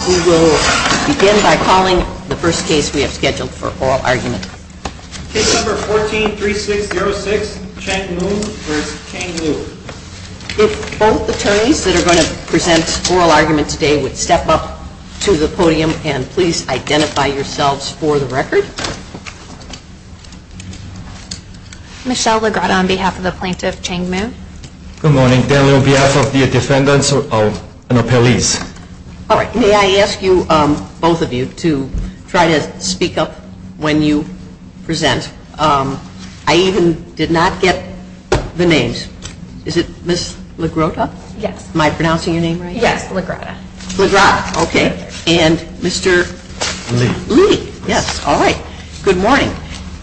We will begin by calling the first case we have scheduled for oral argument. Case number 14-3606, Chang-Mu v. Chang-Liu. If both attorneys that are going to present oral arguments today would step up to the podium and please identify yourselves for the record. Michelle Lagrada on behalf of the plaintiff, Chang-Mu. Good morning. Dan Liu on behalf of the defendants and appellees. All right. May I ask you, both of you, to try to speak up when you present. I even did not get the names. Is it Ms. Lagrada? Yes. Am I pronouncing your name right? Yes, Lagrada. Lagrada, okay. And Mr. Liu. Liu, yes. All right. Good morning.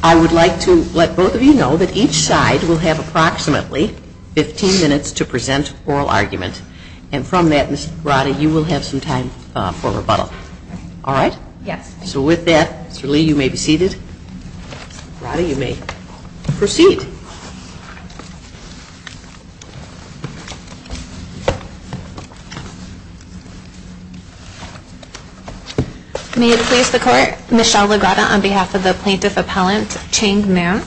I would like to let both of you know that each side will have approximately 15 minutes to present oral argument. And from that, Ms. Lagrada, you will have some time for rebuttal. All right? Yes. So with that, Mr. Liu, you may be seated. Lagrada, you may proceed. May it please the Court, Michelle Lagrada on behalf of the plaintiff appellant, Chang-Mu.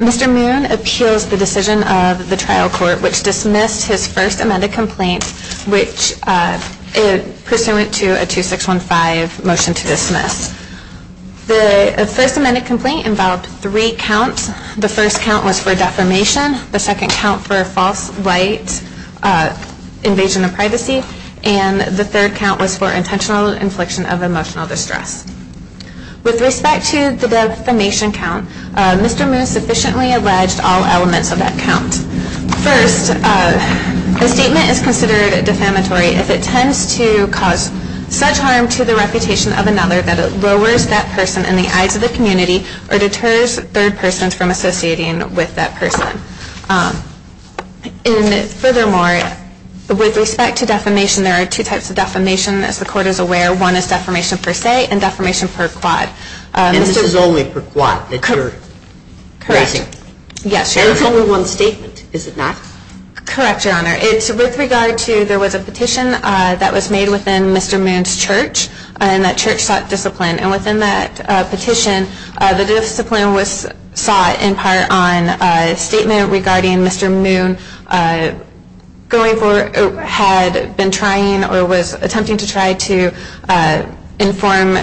Mr. Moon appeals the decision of the trial court, which dismissed his first amended complaint, which is pursuant to a 2615 motion to dismiss. The first amended complaint involved three counts. The first count was for defamation. The second count for false light invasion of privacy. And the third count was for intentional infliction of emotional distress. With respect to the defamation count, Mr. Moon sufficiently alleged all elements of that count. First, the statement is considered defamatory if it tends to cause such harm to the reputation of another that it lowers that person in the eyes of the community or deters third persons from associating with that person. Furthermore, with respect to defamation, there are two types of defamation, as the Court is aware. One is defamation per se and defamation per quad. And this is only per quad that you're addressing? Correct. Yes, Your Honor. And it's only one statement, is it not? Correct, Your Honor. It's with regard to there was a petition that was made within Mr. Moon's church, and that church sought discipline. And within that petition, the discipline was sought in part on a statement regarding Mr. Moon going for, had been trying or was attempting to try to inform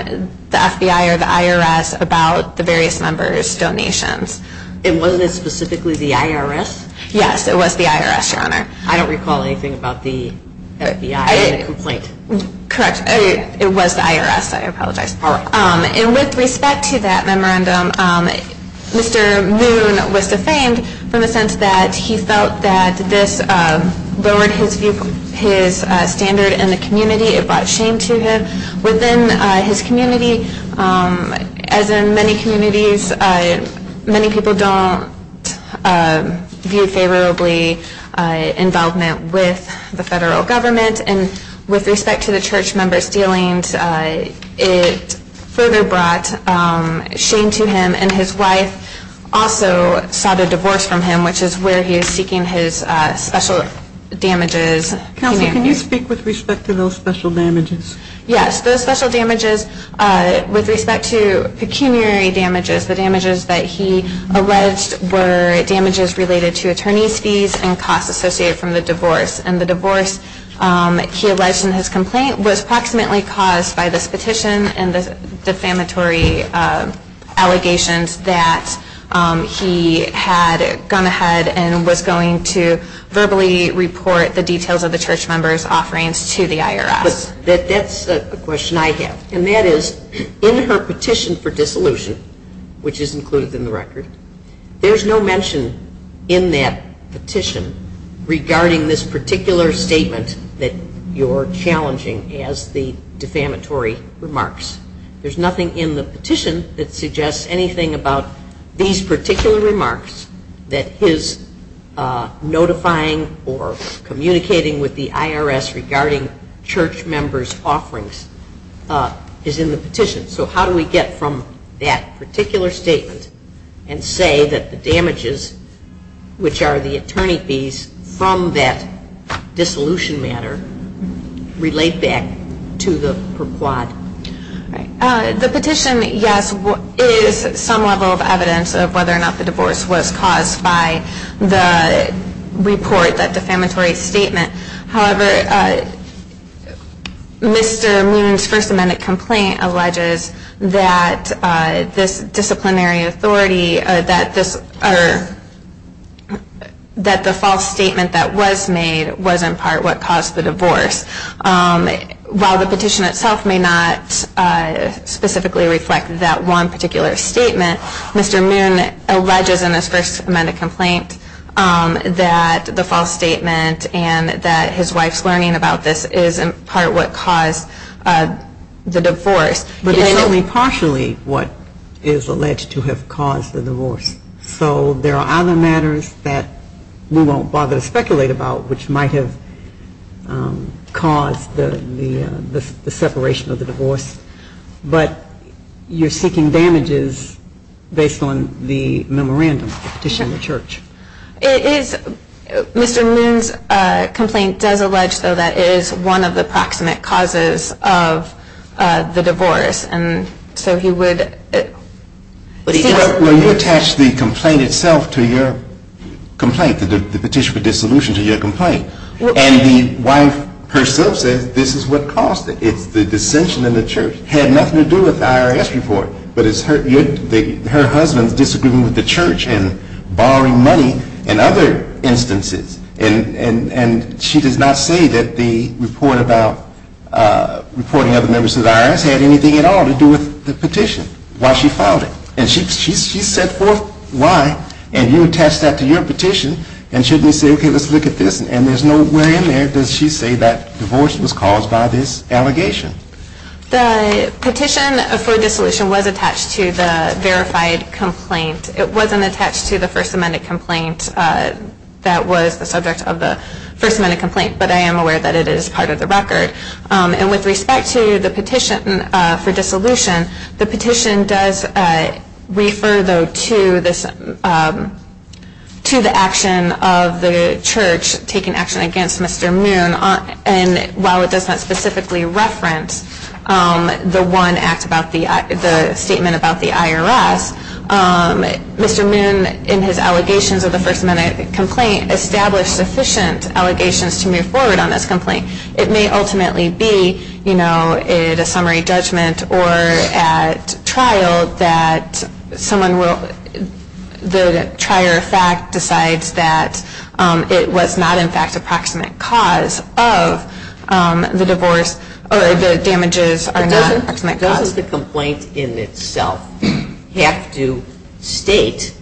the FBI or the IRS about the various members' donations. And wasn't it specifically the IRS? Yes, it was the IRS, Your Honor. I don't recall anything about the FBI in the complaint. Correct. It was the IRS. I apologize. All right. And with respect to that memorandum, Mr. Moon was defamed from the sense that he felt that this lowered his view, his standard in the community. It brought shame to him within his community. As in many communities, many people don't view favorably involvement with the federal government. And with respect to the church members' dealings, it further brought shame to him. And his wife also sought a divorce from him, which is where he is seeking his special damages. Counsel, can you speak with respect to those special damages? Yes. Those special damages with respect to pecuniary damages, the damages that he alleged were damages related to attorney's fees and costs associated from the divorce. And the divorce he alleged in his complaint was approximately caused by this petition and the defamatory allegations that he had gone ahead and was going to verbally report the details of the church members' offerings to the IRS. That's a question I have. And that is, in her petition for dissolution, which is included in the record, there's no mention in that petition regarding this particular statement that you're challenging as the defamatory remarks. There's nothing in the petition that suggests anything about these particular remarks that his notifying or communicating with the IRS regarding church members' offerings is in the petition. So how do we get from that particular statement and say that the damages, which are the attorney fees, from that dissolution matter relate back to the per quad? The petition, yes, is some level of evidence of whether or not the divorce was caused by the report, that defamatory statement. However, Mr. Moon's first amended complaint alleges that this disciplinary authority, that the false statement that was made was in part what caused the divorce. While the petition itself may not specifically reflect that one particular statement, Mr. Moon alleges in his first amended complaint that the false statement and that his wife's learning about this is in part what caused the divorce. But it's only partially what is alleged to have caused the divorce. So there are other matters that we won't bother to speculate about which might have caused the separation of the divorce. But you're seeking damages based on the memorandum, the petition in the church. Mr. Moon's complaint does allege, though, that it is one of the proximate causes of the divorce. And so he would – Well, you attached the complaint itself to your complaint, the petition for dissolution to your complaint. And the wife herself says this is what caused it. It's the dissension in the church. It had nothing to do with the IRS report. But it's her husband's disagreement with the church and borrowing money in other instances. And she does not say that the report about reporting other members of the IRS had anything at all to do with the petition, why she filed it. And she set forth why. And you attached that to your petition. And shouldn't we say, okay, let's look at this? And there's no way in there does she say that divorce was caused by this allegation. The petition for dissolution was attached to the verified complaint. It wasn't attached to the First Amendment complaint that was the subject of the First Amendment complaint. But I am aware that it is part of the record. And with respect to the petition for dissolution, the petition does refer, though, to the action of the church taking action against Mr. Moon. And while it does not specifically reference the statement about the IRS, Mr. Moon, in his allegations of the First Amendment complaint, established sufficient allegations to move forward on this complaint. It may ultimately be, you know, in a summary judgment or at trial that someone will, the trier of fact decides that it was not, in fact, approximate cause of the divorce or the damages are not approximate cause. Why does the complaint in itself have to state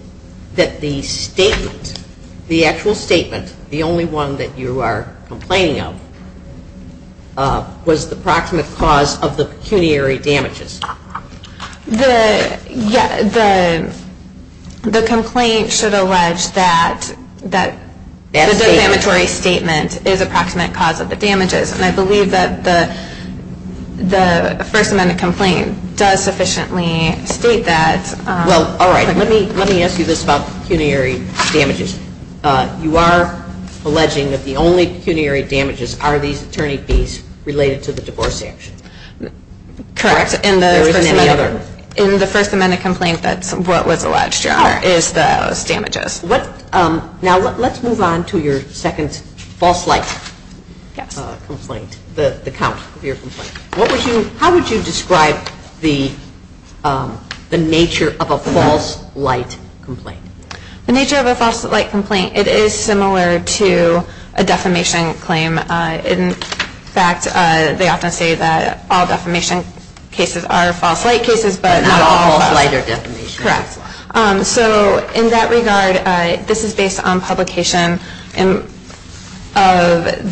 that the statement, the actual statement, the only one that you are complaining of, was the approximate cause of the pecuniary damages? The complaint should allege that the damatory statement is approximate cause of the damages. And I believe that the First Amendment complaint does sufficiently state that. Well, all right. Let me ask you this about pecuniary damages. You are alleging that the only pecuniary damages are these attorney fees related to the divorce action. Correct. There isn't any other. In the First Amendment complaint, that's what was alleged, Your Honor, is those damages. Now, let's move on to your second false light complaint, the count of your complaint. How would you describe the nature of a false light complaint? The nature of a false light complaint, it is similar to a defamation claim. In fact, they often say that all defamation cases are false light cases, but not all false light are defamation cases. Correct. So in that regard, this is based on publication of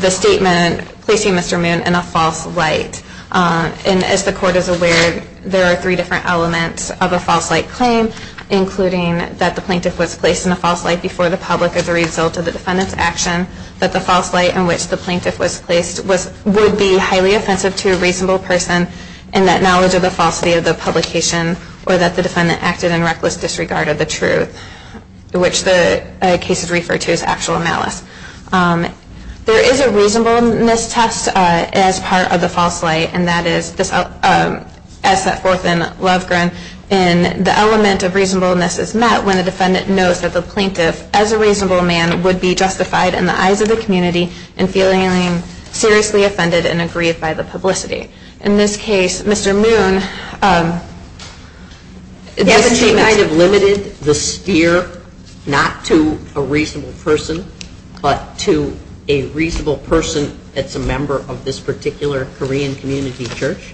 the statement, placing Mr. Moon in a false light. And as the Court is aware, there are three different elements of a false light claim, including that the plaintiff was placed in a false light before the public as a result of the defendant's action, that the false light in which the plaintiff was placed would be highly offensive to a reasonable person, and that knowledge of the falsity of the publication or that the defendant acted in reckless disregard of the truth, which the case is referred to as actual malice. There is a reasonableness test as part of the false light, and that is as set forth in Lovegren, and the element of reasonableness is met when the defendant knows that the plaintiff, as a reasonable man, would be justified in the eyes of the community in feeling seriously offended and aggrieved by the publicity. In this case, Mr. Moon, this kind of limited the steer not to a reasonable person, but to a reasonable person that's a member of this particular Korean community church?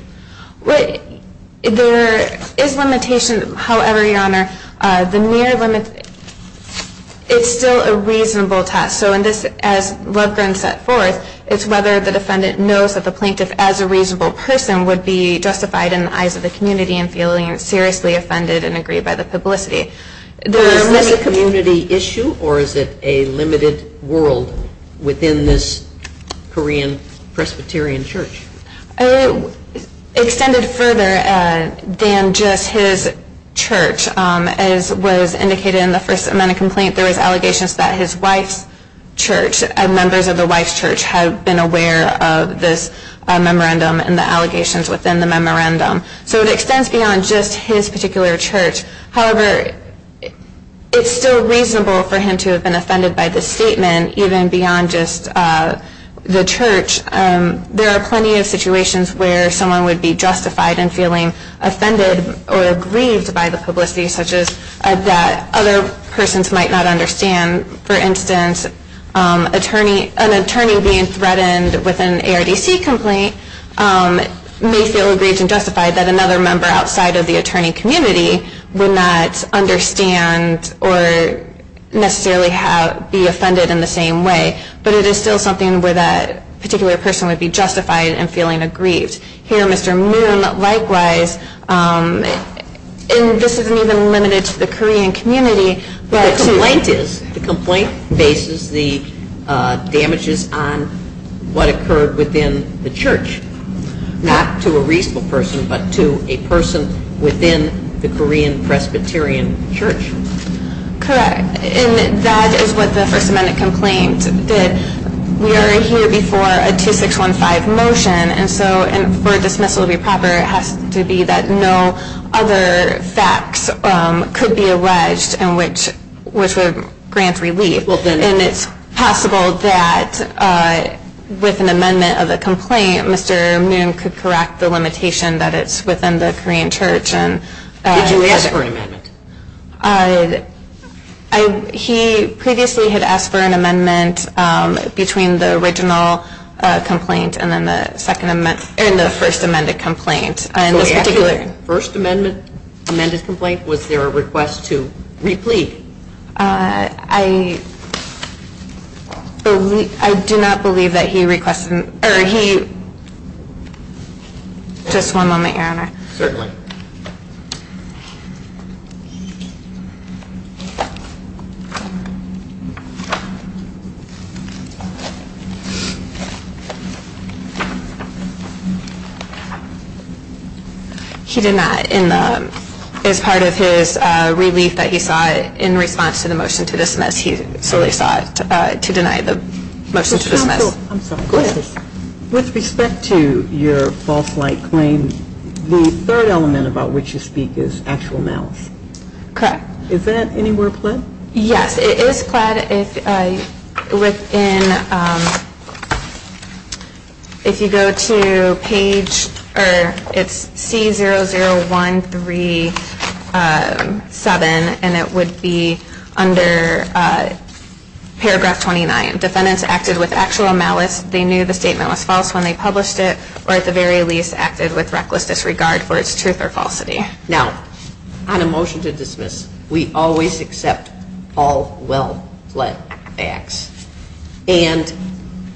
There is limitation, however, Your Honor. The mere limit, it's still a reasonable test. So in this, as Lovegren set forth, it's whether the defendant knows that the plaintiff, as a reasonable person, would be justified in the eyes of the community in feeling seriously offended and aggrieved by the publicity. Is this a community issue, or is it a limited world within this Korean Presbyterian church? Extended further than just his church, as was indicated in the First Amendment complaint, there was allegations that his wife's church, members of the wife's church, had been aware of this memorandum and the allegations within the memorandum. So it extends beyond just his particular church. However, it's still reasonable for him to have been offended by this statement, even beyond just the church. There are plenty of situations where someone would be justified in feeling offended or aggrieved by the publicity, such as that other persons might not understand. For instance, an attorney being threatened with an ARDC complaint may feel aggrieved and justified that another member outside of the attorney community would not understand or necessarily be offended in the same way. But it is still something where that particular person would be justified in feeling aggrieved. Here, Mr. Moon, likewise, and this isn't even limited to the Korean community. The complaint bases the damages on what occurred within the church, not to a reasonable person, but to a person within the Korean Presbyterian church. Correct. And that is what the First Amendment complaint did. We are here before a 2615 motion, and so for a dismissal to be proper, it has to be that no other facts could be alleged which would grant relief. And it's possible that with an amendment of the complaint, Mr. Moon could correct the limitation that it's within the Korean church. Did you ask for an amendment? He previously had asked for an amendment between the original complaint and the First Amendment complaint. The First Amendment complaint, was there a request to re-plead? I do not believe that he requested. Just one moment, Your Honor. Certainly. Okay. He did not. As part of his relief that he sought in response to the motion to dismiss, he solely sought to deny the motion to dismiss. I'm sorry, go ahead. With respect to your false light claim, the third element about which you speak is actual malice. Correct. Is that anywhere pled? Yes, it is pled within, if you go to page, it's C00137, and it would be under paragraph 29. If the defendant acted with actual malice, they knew the statement was false when they published it, or at the very least acted with reckless disregard for its truth or falsity. Now, on a motion to dismiss, we always accept all well-pled facts. And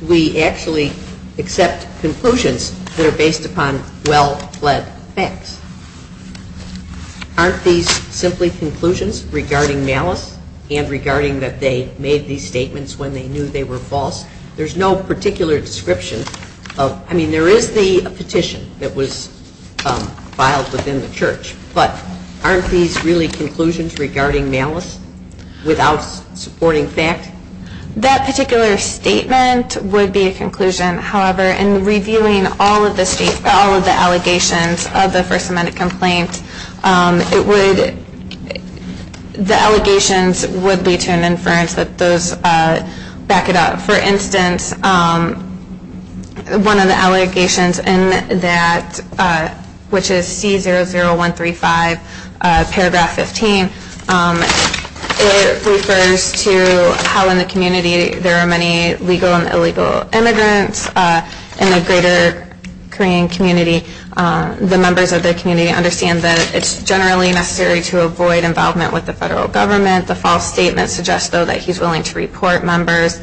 we actually accept conclusions that are based upon well-pled facts. Aren't these simply conclusions regarding malice and regarding that they made these statements when they knew they were false? There's no particular description. I mean, there is the petition that was filed within the church, but aren't these really conclusions regarding malice without supporting fact? That particular statement would be a conclusion. However, in reviewing all of the allegations of the First Amendment complaint, the allegations would lead to an inference that those back it up. For instance, one of the allegations in that, which is C00135, paragraph 15, refers to how in the community there are many legal and illegal immigrants. In the greater Korean community, the members of the community understand that it's generally necessary to avoid involvement with the federal government. The false statement suggests, though, that he's willing to report members.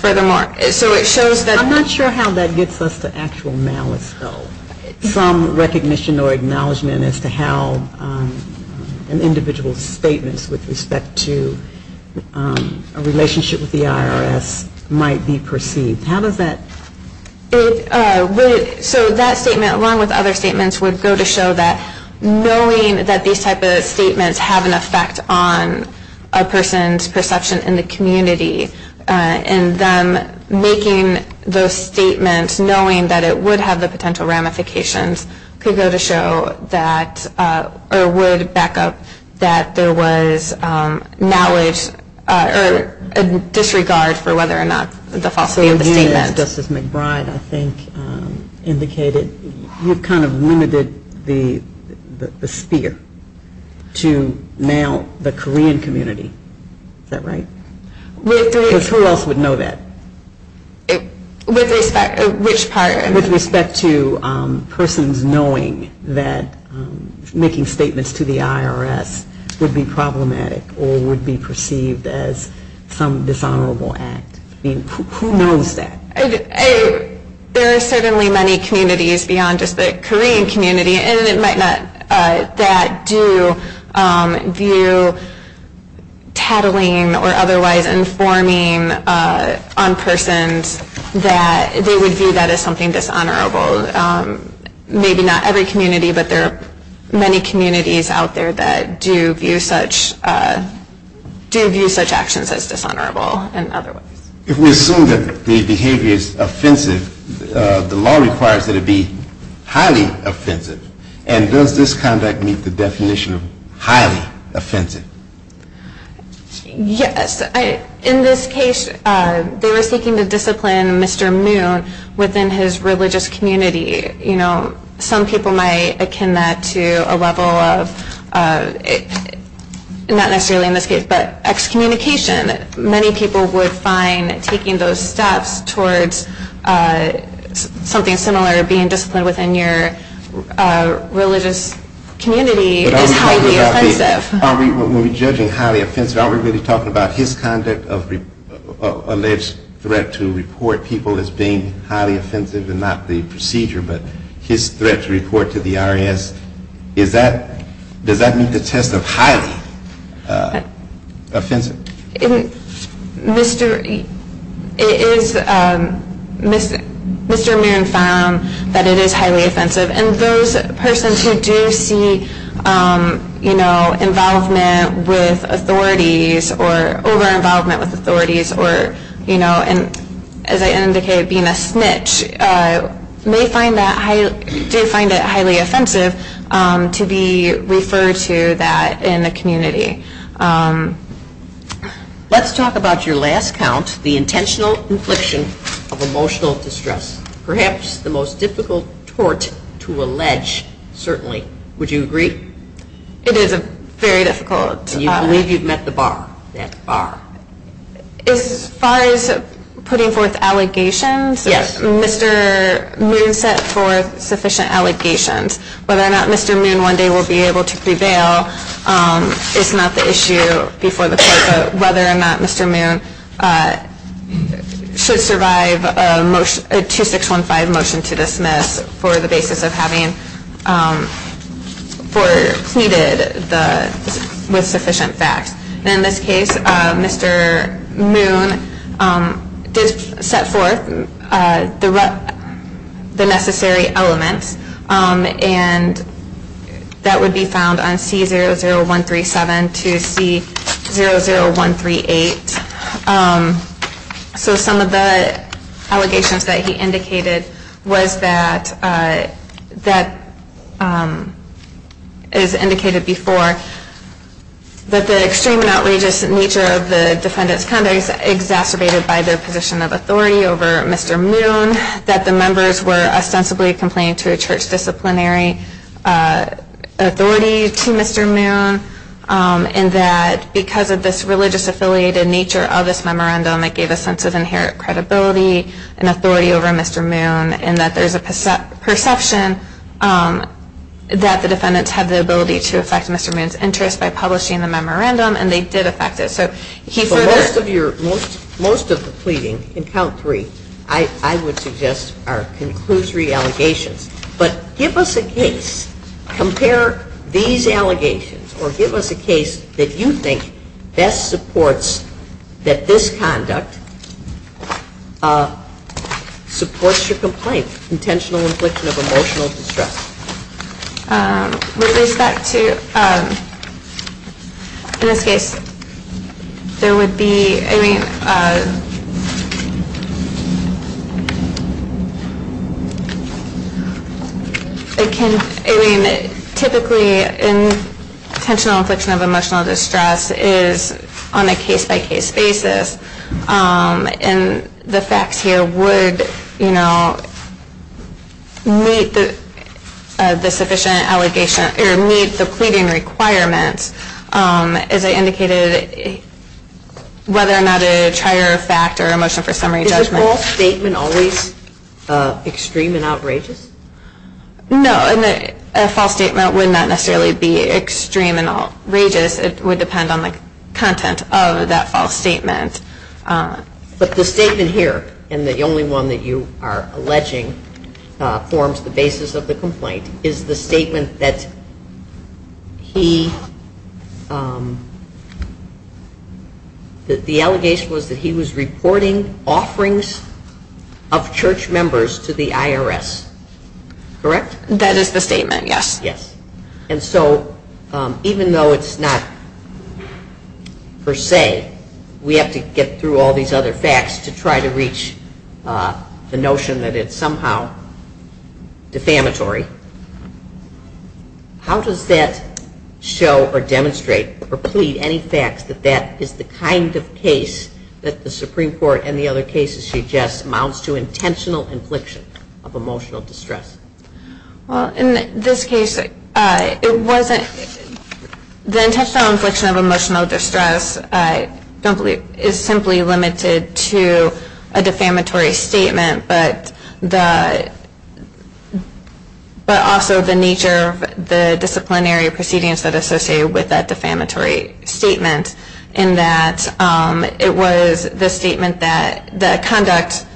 Furthermore, so it shows that- I'm not sure how that gets us to actual malice, though. Some recognition or acknowledgment as to how an individual's statements with respect to a relationship with the IRS might be perceived. How does that- So that statement, along with other statements, would go to show that knowing that these type of statements have an effect on a person's perception in the community and then making those statements knowing that it would have the potential ramifications could go to show that-or would back up that there was knowledge or a disregard for whether or not the falsity of the statement. As Justice McBride, I think, indicated, you've kind of limited the sphere to now the Korean community. Is that right? Because who else would know that? With respect to which part? With respect to persons knowing that making statements to the IRS would be problematic or would be perceived as some dishonorable act. Who knows that? There are certainly many communities beyond just the Korean community and it might not-that do view tattling or otherwise informing on persons that they would view that as something dishonorable. Maybe not every community, but there are many communities out there that do view such actions as dishonorable and otherwise. If we assume that the behavior is offensive, the law requires that it be highly offensive. And does this conduct meet the definition of highly offensive? Yes. In this case, they were seeking to discipline Mr. Moon within his religious community. Some people might akin that to a level of, not necessarily in this case, but excommunication. Many people would find taking those steps towards something similar, being disciplined within your religious community, is highly offensive. When we're judging highly offensive, are we really talking about his conduct of alleged threat to report people as being highly offensive and not the procedure but his threat to report to the IRS? Does that meet the test of highly offensive? Mr. Moon found that it is highly offensive. And those persons who do see, you know, involvement with authorities or over-involvement with authorities or, you know, as I indicated, being a snitch, may find that highly, do find it highly offensive to be referred to that in the community. Let's talk about your last count, the intentional infliction of emotional distress. Perhaps the most difficult tort to allege, certainly. Would you agree? It is very difficult. You believe you've met the bar. As far as putting forth allegations, Mr. Moon set forth sufficient allegations. Whether or not Mr. Moon one day will be able to prevail is not the issue before the court, but whether or not Mr. Moon should survive a 2615 motion to dismiss for the basis of having pleaded with sufficient facts. In this case, Mr. Moon did set forth the necessary elements and that would be found on C00137 to C00138. So some of the allegations that he indicated was that, as indicated before, that the extreme and outrageous nature of the defendant's conduct is exacerbated by their position of authority over Mr. Moon, that the members were ostensibly complaining to a church disciplinary authority to Mr. Moon, and that because of this religious-affiliated nature of this memorandum, it gave a sense of inherent credibility and authority over Mr. Moon, and that there's a perception that the defendants had the ability to affect Mr. Moon's interest by publishing the memorandum, and they did affect it. For most of the pleading in count three, I would suggest are conclusory allegations. But give us a case, compare these allegations, or give us a case that you think best supports that this conduct supports your complaint, intentional infliction of emotional distress. With respect to, in this case, there would be, I mean, typically intentional infliction of emotional distress is on a case-by-case basis, and the facts here would, you know, meet the sufficient allegation, or meet the pleading requirements, as I indicated, whether or not a trier of fact or a motion for summary judgment. Is a false statement always extreme and outrageous? No, a false statement would not necessarily be extreme and outrageous. It would depend on the content of that false statement. But the statement here, and the only one that you are alleging forms the basis of the complaint, is the statement that he, that the allegation was that he was reporting offerings of church members to the IRS, correct? That is the statement, yes. And so, even though it's not per se, we have to get through all these other facts to try to reach the notion that it's somehow defamatory. How does that show or demonstrate or plead any facts that that is the kind of case that the Supreme Court and the other cases suggest amounts to intentional infliction of emotional distress? Well, in this case, it wasn't. The intentional infliction of emotional distress is simply limited to a defamatory statement, but also the nature of the disciplinary proceedings that are associated with that defamatory statement, in that it was the statement that the conduct,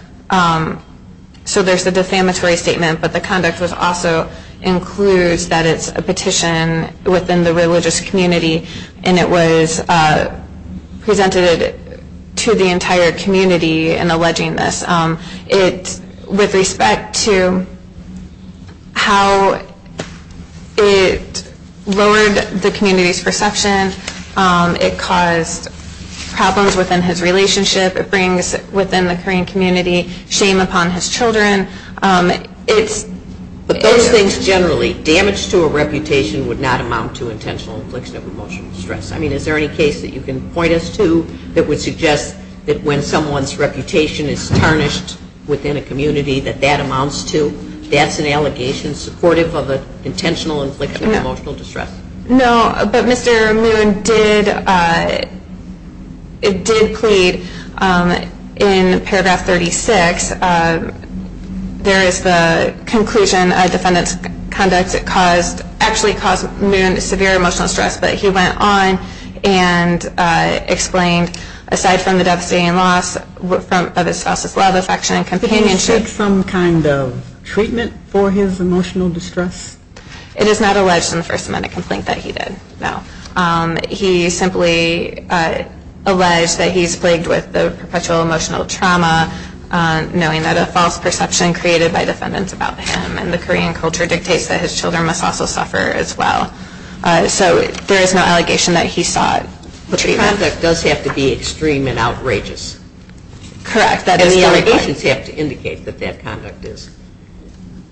so there's the defamatory statement, but the conduct also includes that it's a petition within the religious community, and it was presented to the entire community in alleging this. With respect to how it lowered the community's perception, it caused problems within his relationship, it brings within the Korean community shame upon his children. But those things generally, damage to a reputation, would not amount to intentional infliction of emotional distress. I mean, is there any case that you can point us to that would suggest that when someone's reputation is tarnished within a community, that that amounts to, that's an allegation supportive of an intentional infliction of emotional distress? No, but Mr. Moon did, it did plead in paragraph 36, there is the conclusion of defendant's conduct that caused, actually caused Moon severe emotional stress, but he went on and explained, aside from the devastating loss of his spouse's love, affection, and companionship. Did he seek some kind of treatment for his emotional distress? It is not alleged in the first amendment complaint that he did, no. He simply alleged that he's plagued with perpetual emotional trauma, knowing that a false perception created by defendants about him, and the Korean culture dictates that his children must also suffer as well. So there is no allegation that he sought treatment. But the conduct does have to be extreme and outrageous. Correct. And the allegations have to indicate that that conduct is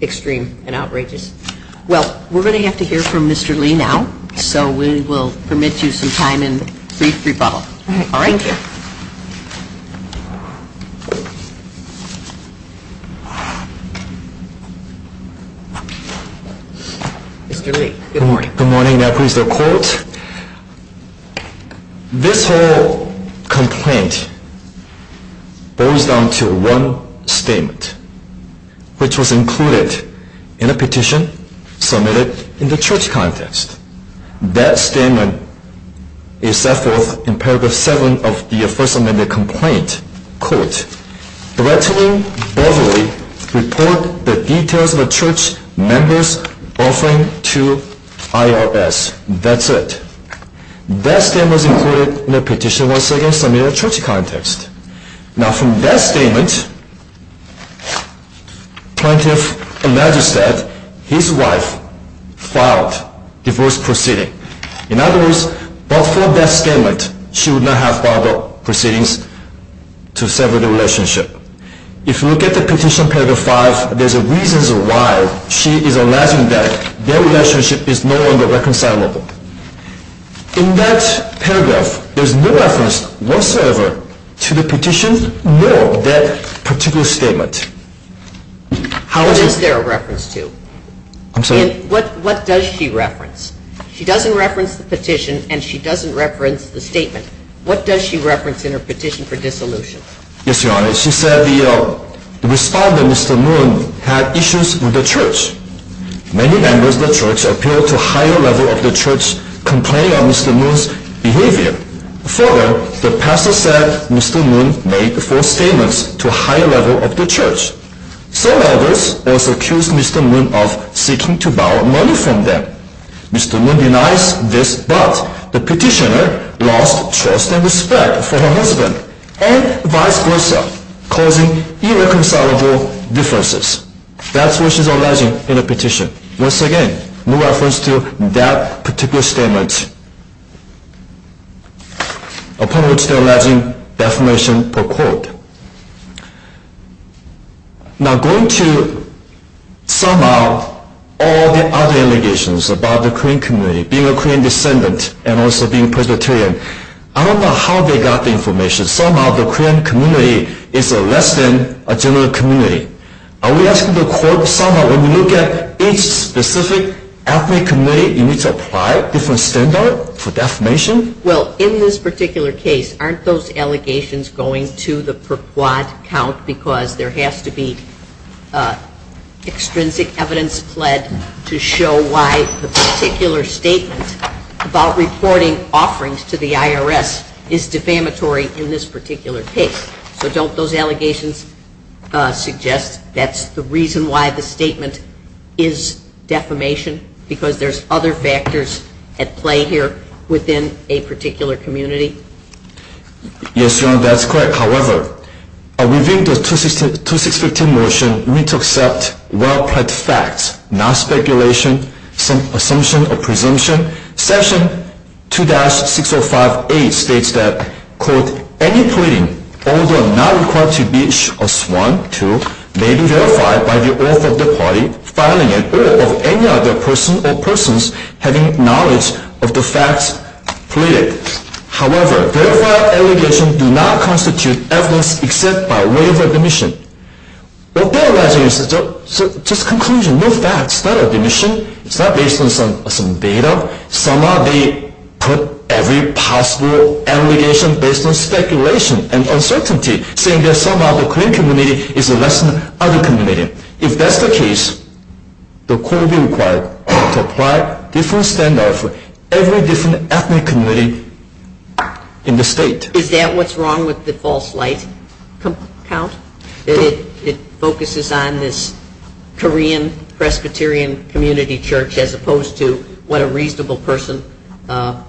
extreme and outrageous. Well, we're going to have to hear from Mr. Lee now, so we will permit you some time and brief rebuttal. All right. Thank you. Mr. Lee, good morning. Good morning. This whole complaint boils down to one statement, which was included in a petition submitted in the church context. That statement is set forth in paragraph 7 of the first amendment complaint, quote, Threatening Beverly, report the details of a church member's offering to IRS. That's it. That statement was included in the petition, once again, submitted in the church context. Now, from that statement, plaintiff alleges that his wife filed divorce proceedings. In other words, but for that statement, she would not have filed the proceedings to sever the relationship. If you look at the petition, paragraph 5, there's reasons why she is alleging that their relationship is no longer reconcilable. In that paragraph, there's no reference whatsoever to the petition nor that particular statement. How is there a reference to? I'm sorry? What does she reference? She doesn't reference the petition and she doesn't reference the statement. What does she reference in her petition for dissolution? Yes, Your Honor. She said the respondent, Mr. Moon, had issues with the church. Many members of the church appeared to a higher level of the church complaining of Mr. Moon's behavior. Further, the pastor said Mr. Moon made false statements to a higher level of the church. Some elders also accused Mr. Moon of seeking to borrow money from them. Mr. Moon denies this, but the petitioner lost trust and respect for her husband and vice versa, causing irreconcilable differences. That's what she's alleging in her petition. Once again, no reference to that particular statement, upon which they're alleging defamation per quote. Now, going to sum up all the other allegations about the Korean community, being a Korean descendant and also being Presbyterian, I don't know how they got the information. Somehow, the Korean community is less than a general community. Are we asking the court, somehow, when we look at each specific ethnic community, you need to apply different standards for defamation? Well, in this particular case, aren't those allegations going to the per-quote count? Because there has to be extrinsic evidence pled to show why the particular statement about reporting offerings to the IRS is defamatory in this particular case. So don't those allegations suggest that's the reason why the statement is defamation? Because there's other factors at play here within a particular community? Yes, Your Honor, that's correct. However, within the 2615 motion, we need to accept well-planned facts, not speculation, assumption, or presumption. Section 2-6058 states that, quote, Verified allegations do not constitute evidence except by way of admission. What they're alleging is just conclusions, no facts, not admission. It's not based on some data. Somehow, they put every possible allegation based on speculation and uncertainty, saying that somehow the Korean community is less than other communities. If that's the case, the court will be required to apply different standards for every different ethnic community in the state. Is that what's wrong with the false light count? That it focuses on this Korean Presbyterian community church as opposed to what a reasonable person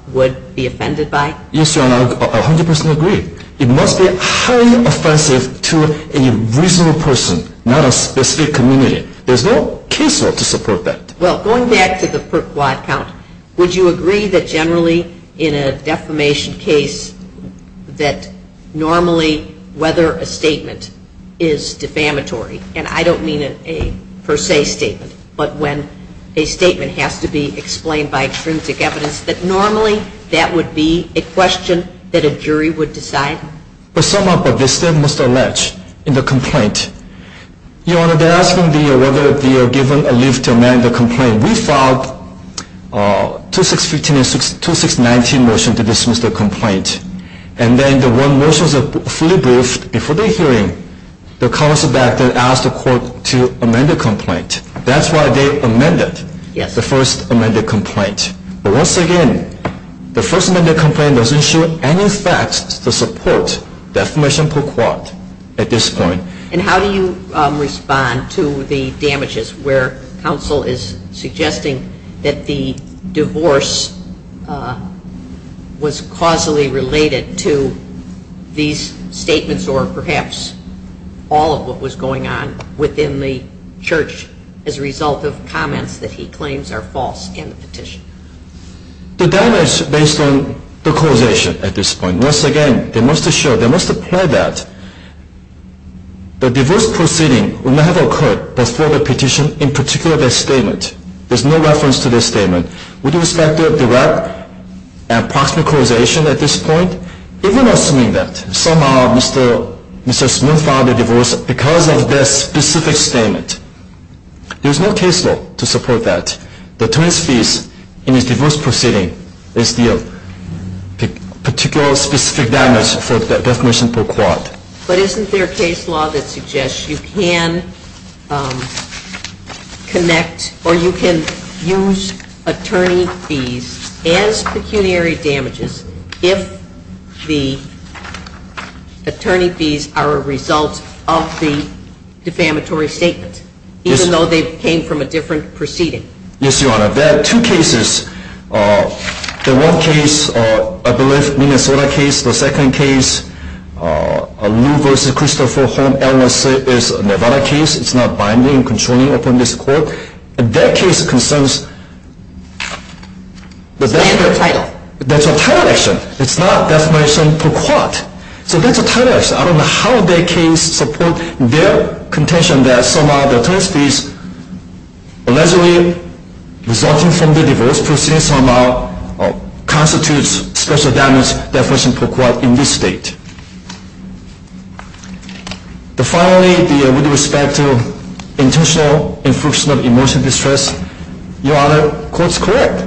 would be offended by? Yes, Your Honor, I 100% agree. It must be highly offensive to a reasonable person, not a specific community. There's no case law to support that. Well, going back to the per-quad count, would you agree that generally in a defamation case that normally whether a statement is defamatory, and I don't mean a per se statement, but when a statement has to be explained by extrinsic evidence, that normally that would be a question that a jury would decide? But somehow, but they still must allege in the complaint. Your Honor, they're asking whether they are given a leave to amend the complaint. We filed a 2615 and 2619 motion to dismiss the complaint. And then the one motion was fully briefed before the hearing. The counsel back then asked the court to amend the complaint. That's why they amended the first amended complaint. But once again, the first amended complaint doesn't show any facts to support defamation per-quad at this point. And how do you respond to the damages where counsel is suggesting that the divorce was causally related to these statements or perhaps all of what was going on within the church as a result of comments that he claims are false in the petition? The damage is based on the causation at this point. Once again, they must show, they must apply that. The divorce proceeding would not have occurred before the petition, in particular the statement. There's no reference to the statement. With respect to direct and proximate causation at this point, even assuming that somehow Mr. Smith filed a divorce because of this specific statement, there's no case law to support that. The attorneys' fees in his divorce proceeding is the particular specific damage for defamation per-quad. But isn't there case law that suggests you can connect or you can use attorney fees as pecuniary damages if the attorney fees are a result of the defamatory statement, even though they came from a different proceeding? Yes, Your Honor. There are two cases. The one case, I believe, Minnesota case. The second case, Lou v. Christopher Holmes, LSA, is a Nevada case. It's not binding and controlling upon this court. That case concerns the defamation per-quad. So that's a title action. I don't know how that case supports their contention that somehow the attorney fees allegedly resulting from the divorce proceeding somehow constitutes special damage defamation per-quad in this state. Finally, with respect to intentional infriction of emotional distress, Your Honor, the court is correct.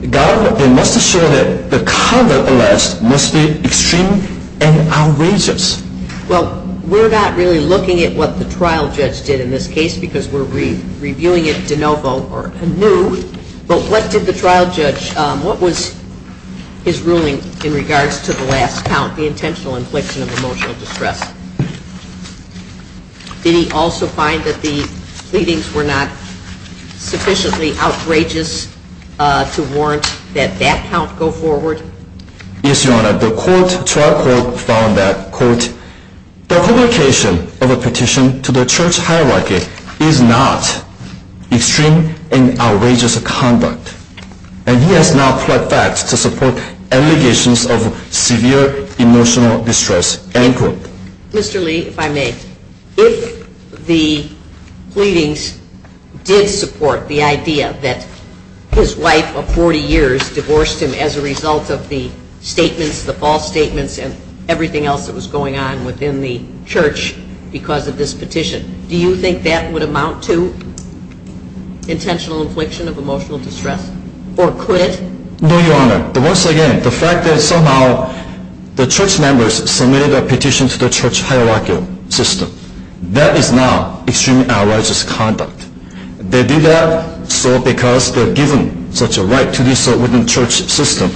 The government, they must assure that the conduct alleged must be extreme and outrageous. Well, we're not really looking at what the trial judge did in this case because we're reviewing it de novo or anew. But what did the trial judge, what was his ruling in regards to the last count, the intentional infliction of emotional distress? Did he also find that the pleadings were not sufficiently outrageous to warrant that that count go forward? Yes, Your Honor. The trial court found that, quote, the publication of a petition to the church hierarchy is not extreme and outrageous conduct. And he has now pled facts to support allegations of severe emotional distress, end quote. Mr. Lee, if I may, if the pleadings did support the idea that his wife of 40 years divorced him as a result of the statements, the false statements, and everything else that was going on within the church because of this petition, do you think that would amount to intentional infliction of emotional distress? Or could it? No, Your Honor. Once again, the fact that somehow the church members submitted a petition to the church hierarchy system, that is not extreme and outrageous conduct. They did that so because they're given such a right to do so within the church system.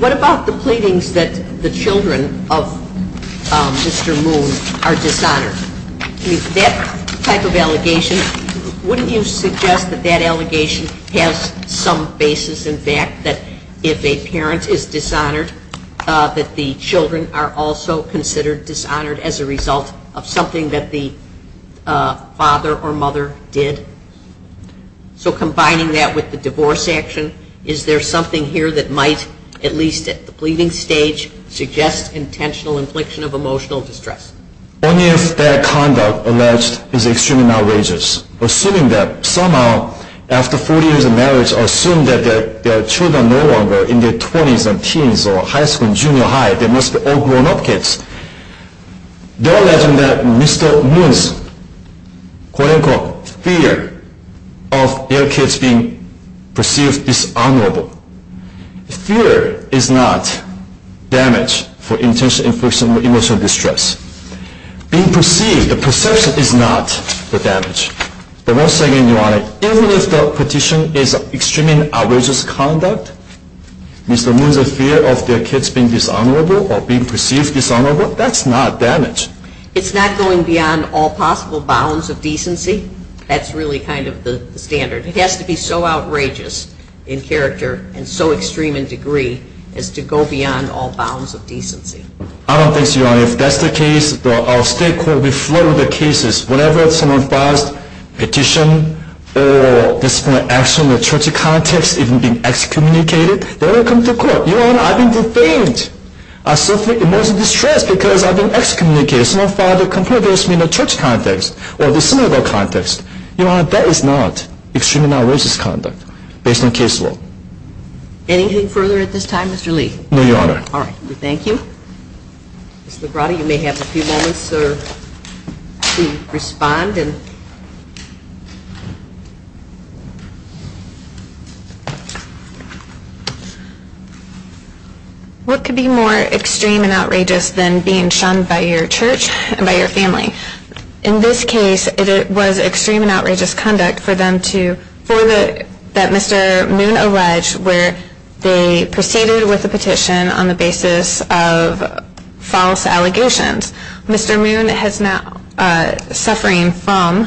What about the pleadings that the children of Mr. Moon are dishonored? That type of allegation, wouldn't you suggest that that allegation has some basis in fact, that if a parent is dishonored that the children are also considered dishonored as a result of something that the father or mother did? So combining that with the divorce action, is there something here that might, at least at the pleading stage, suggest intentional infliction of emotional distress? Only if that conduct alleged is extremely outrageous. Assuming that somehow, after 40 years of marriage, assume that their children are no longer in their 20s and teens or high school and junior high. They must be all grown up kids. They're alleging that Mr. Moon's, quote unquote, fear of their kids being perceived dishonorable. Fear is not damage for intentional infliction of emotional distress. Being perceived, the perception is not the damage. But once again, Your Honor, even if the petition is extremely outrageous conduct, Mr. Moon's fear of their kids being dishonorable or being perceived dishonorable, that's not damage. It's not going beyond all possible bounds of decency. That's really kind of the standard. It has to be so outrageous in character and so extreme in degree as to go beyond all bounds of decency. I don't think so, Your Honor. If that's the case, the state court will be floored with the cases. Whenever someone files a petition or disciplinary action in a church context, even being excommunicated, they don't come to court. Your Honor, I've been defamed. I suffer emotional distress because I've been excommunicated. Someone filed a complaint against me in a church context or a disciplinary context. Your Honor, that is not extremely outrageous conduct based on case law. Anything further at this time, Mr. Lee? No, Your Honor. All right. Thank you. Ms. Labrada, you may have a few moments to respond. What could be more extreme and outrageous than being shunned by your church and by your family? In this case, it was extreme and outrageous conduct for them to, for the, that Mr. Moon alleged where they proceeded with the petition on the basis of false allegations. Mr. Moon has now, suffering from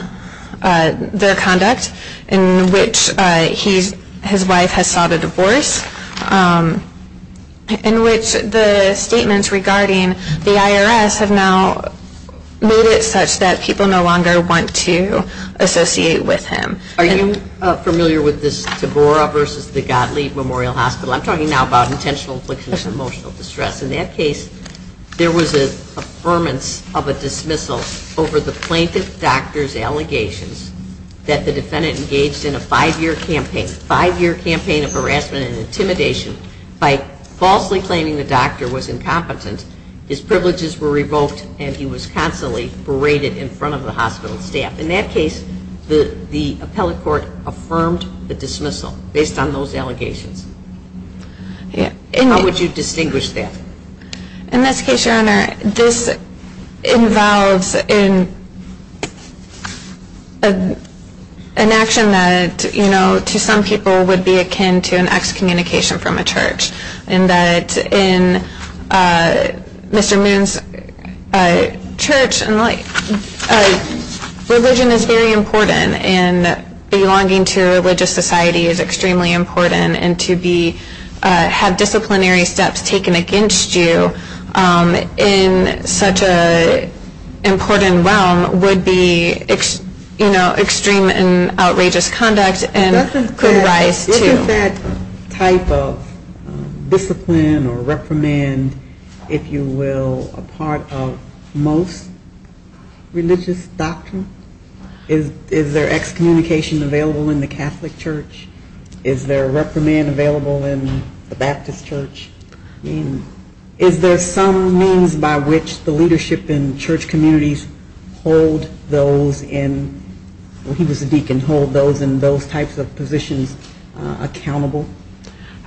their conduct in which he's, his wife has sought a divorce, in which the statements regarding the IRS have now made it such that people no longer want to associate with him. Are you familiar with this Tabora versus the Gottlieb Memorial Hospital? I'm talking now about intentional inflictions of emotional distress. In that case, there was an affirmance of a dismissal over the plaintiff doctor's allegations that the defendant engaged in a five-year campaign, a five-year campaign of harassment and intimidation by falsely claiming the doctor was incompetent. His privileges were revoked and he was constantly berated in front of the hospital staff. In that case, the appellate court affirmed the dismissal based on those allegations. How would you distinguish that? In this case, Your Honor, this involves an action that, you know, to some people would be akin to an excommunication from a church. In that, in Mr. Moon's church, religion is very important and belonging to a religious society is extremely important and to have disciplinary steps taken against you in such an important realm would be, you know, extreme and outrageous conduct. This is that type of discipline or reprimand, if you will, a part of most religious doctrine? Is there excommunication available in the Catholic church? Is there reprimand available in the Baptist church? I mean, is there some means by which the leadership in church communities hold those in, well, he was a deacon, hold those in those types of positions accountable?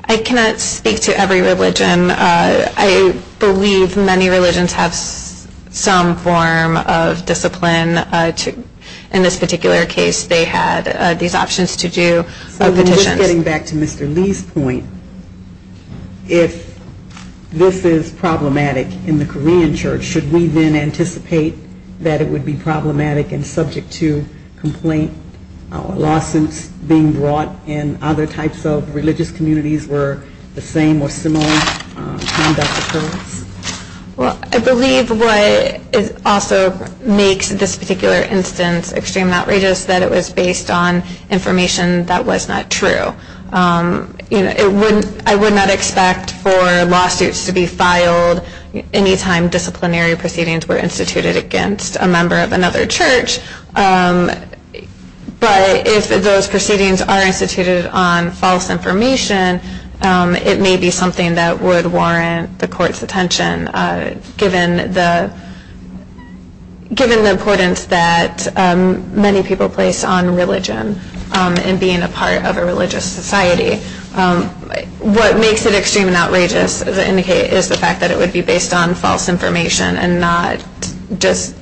I cannot speak to every religion. I believe many religions have some form of discipline. In this particular case, they had these options to do petitions. So just getting back to Mr. Lee's point, if this is problematic in the Korean church, should we then anticipate that it would be problematic and subject to complaint, or lawsuits being brought in other types of religious communities where the same or similar conduct occurs? Well, I believe what also makes this particular instance extreme and outrageous is that it was based on information that was not true. I would not expect for lawsuits to be filed any time disciplinary proceedings were instituted against a member of another church. But if those proceedings are instituted on false information, it may be something that would warrant the court's attention, given the importance that many people place on religion and being a part of a religious society. What makes it extreme and outrageous is the fact that it would be based on false information and not just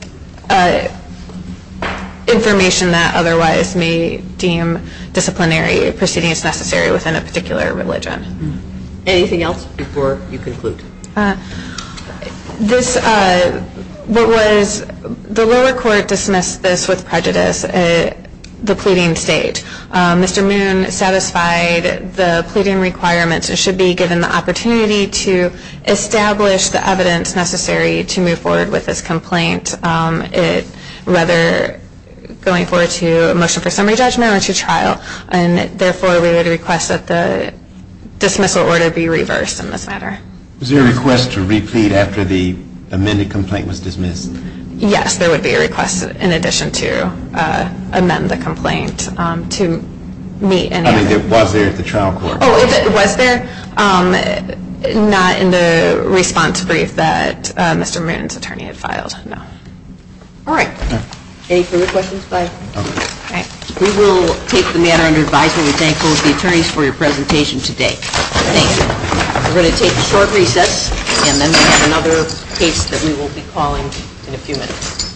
information that otherwise may deem disciplinary proceedings necessary within a particular religion. Anything else before you conclude? The lower court dismissed this with prejudice at the pleading stage. Mr. Moon satisfied the pleading requirements and should be given the opportunity to establish the evidence necessary to move forward with this complaint, whether going forward to a motion for summary judgment or to trial. And therefore, we would request that the dismissal order be reversed in this matter. Was there a request to replete after the amended complaint was dismissed? Yes, there would be a request in addition to amend the complaint to meet any of the requirements. I mean, it was there at the trial court? Oh, it was there, not in the response brief that Mr. Moon's attorney had filed, no. All right. Any further questions by? Okay. All right. We will take the matter under advisement. We thank both the attorneys for your presentation today. Thank you. We're going to take a short recess, and then we have another case that we will be calling in a few minutes.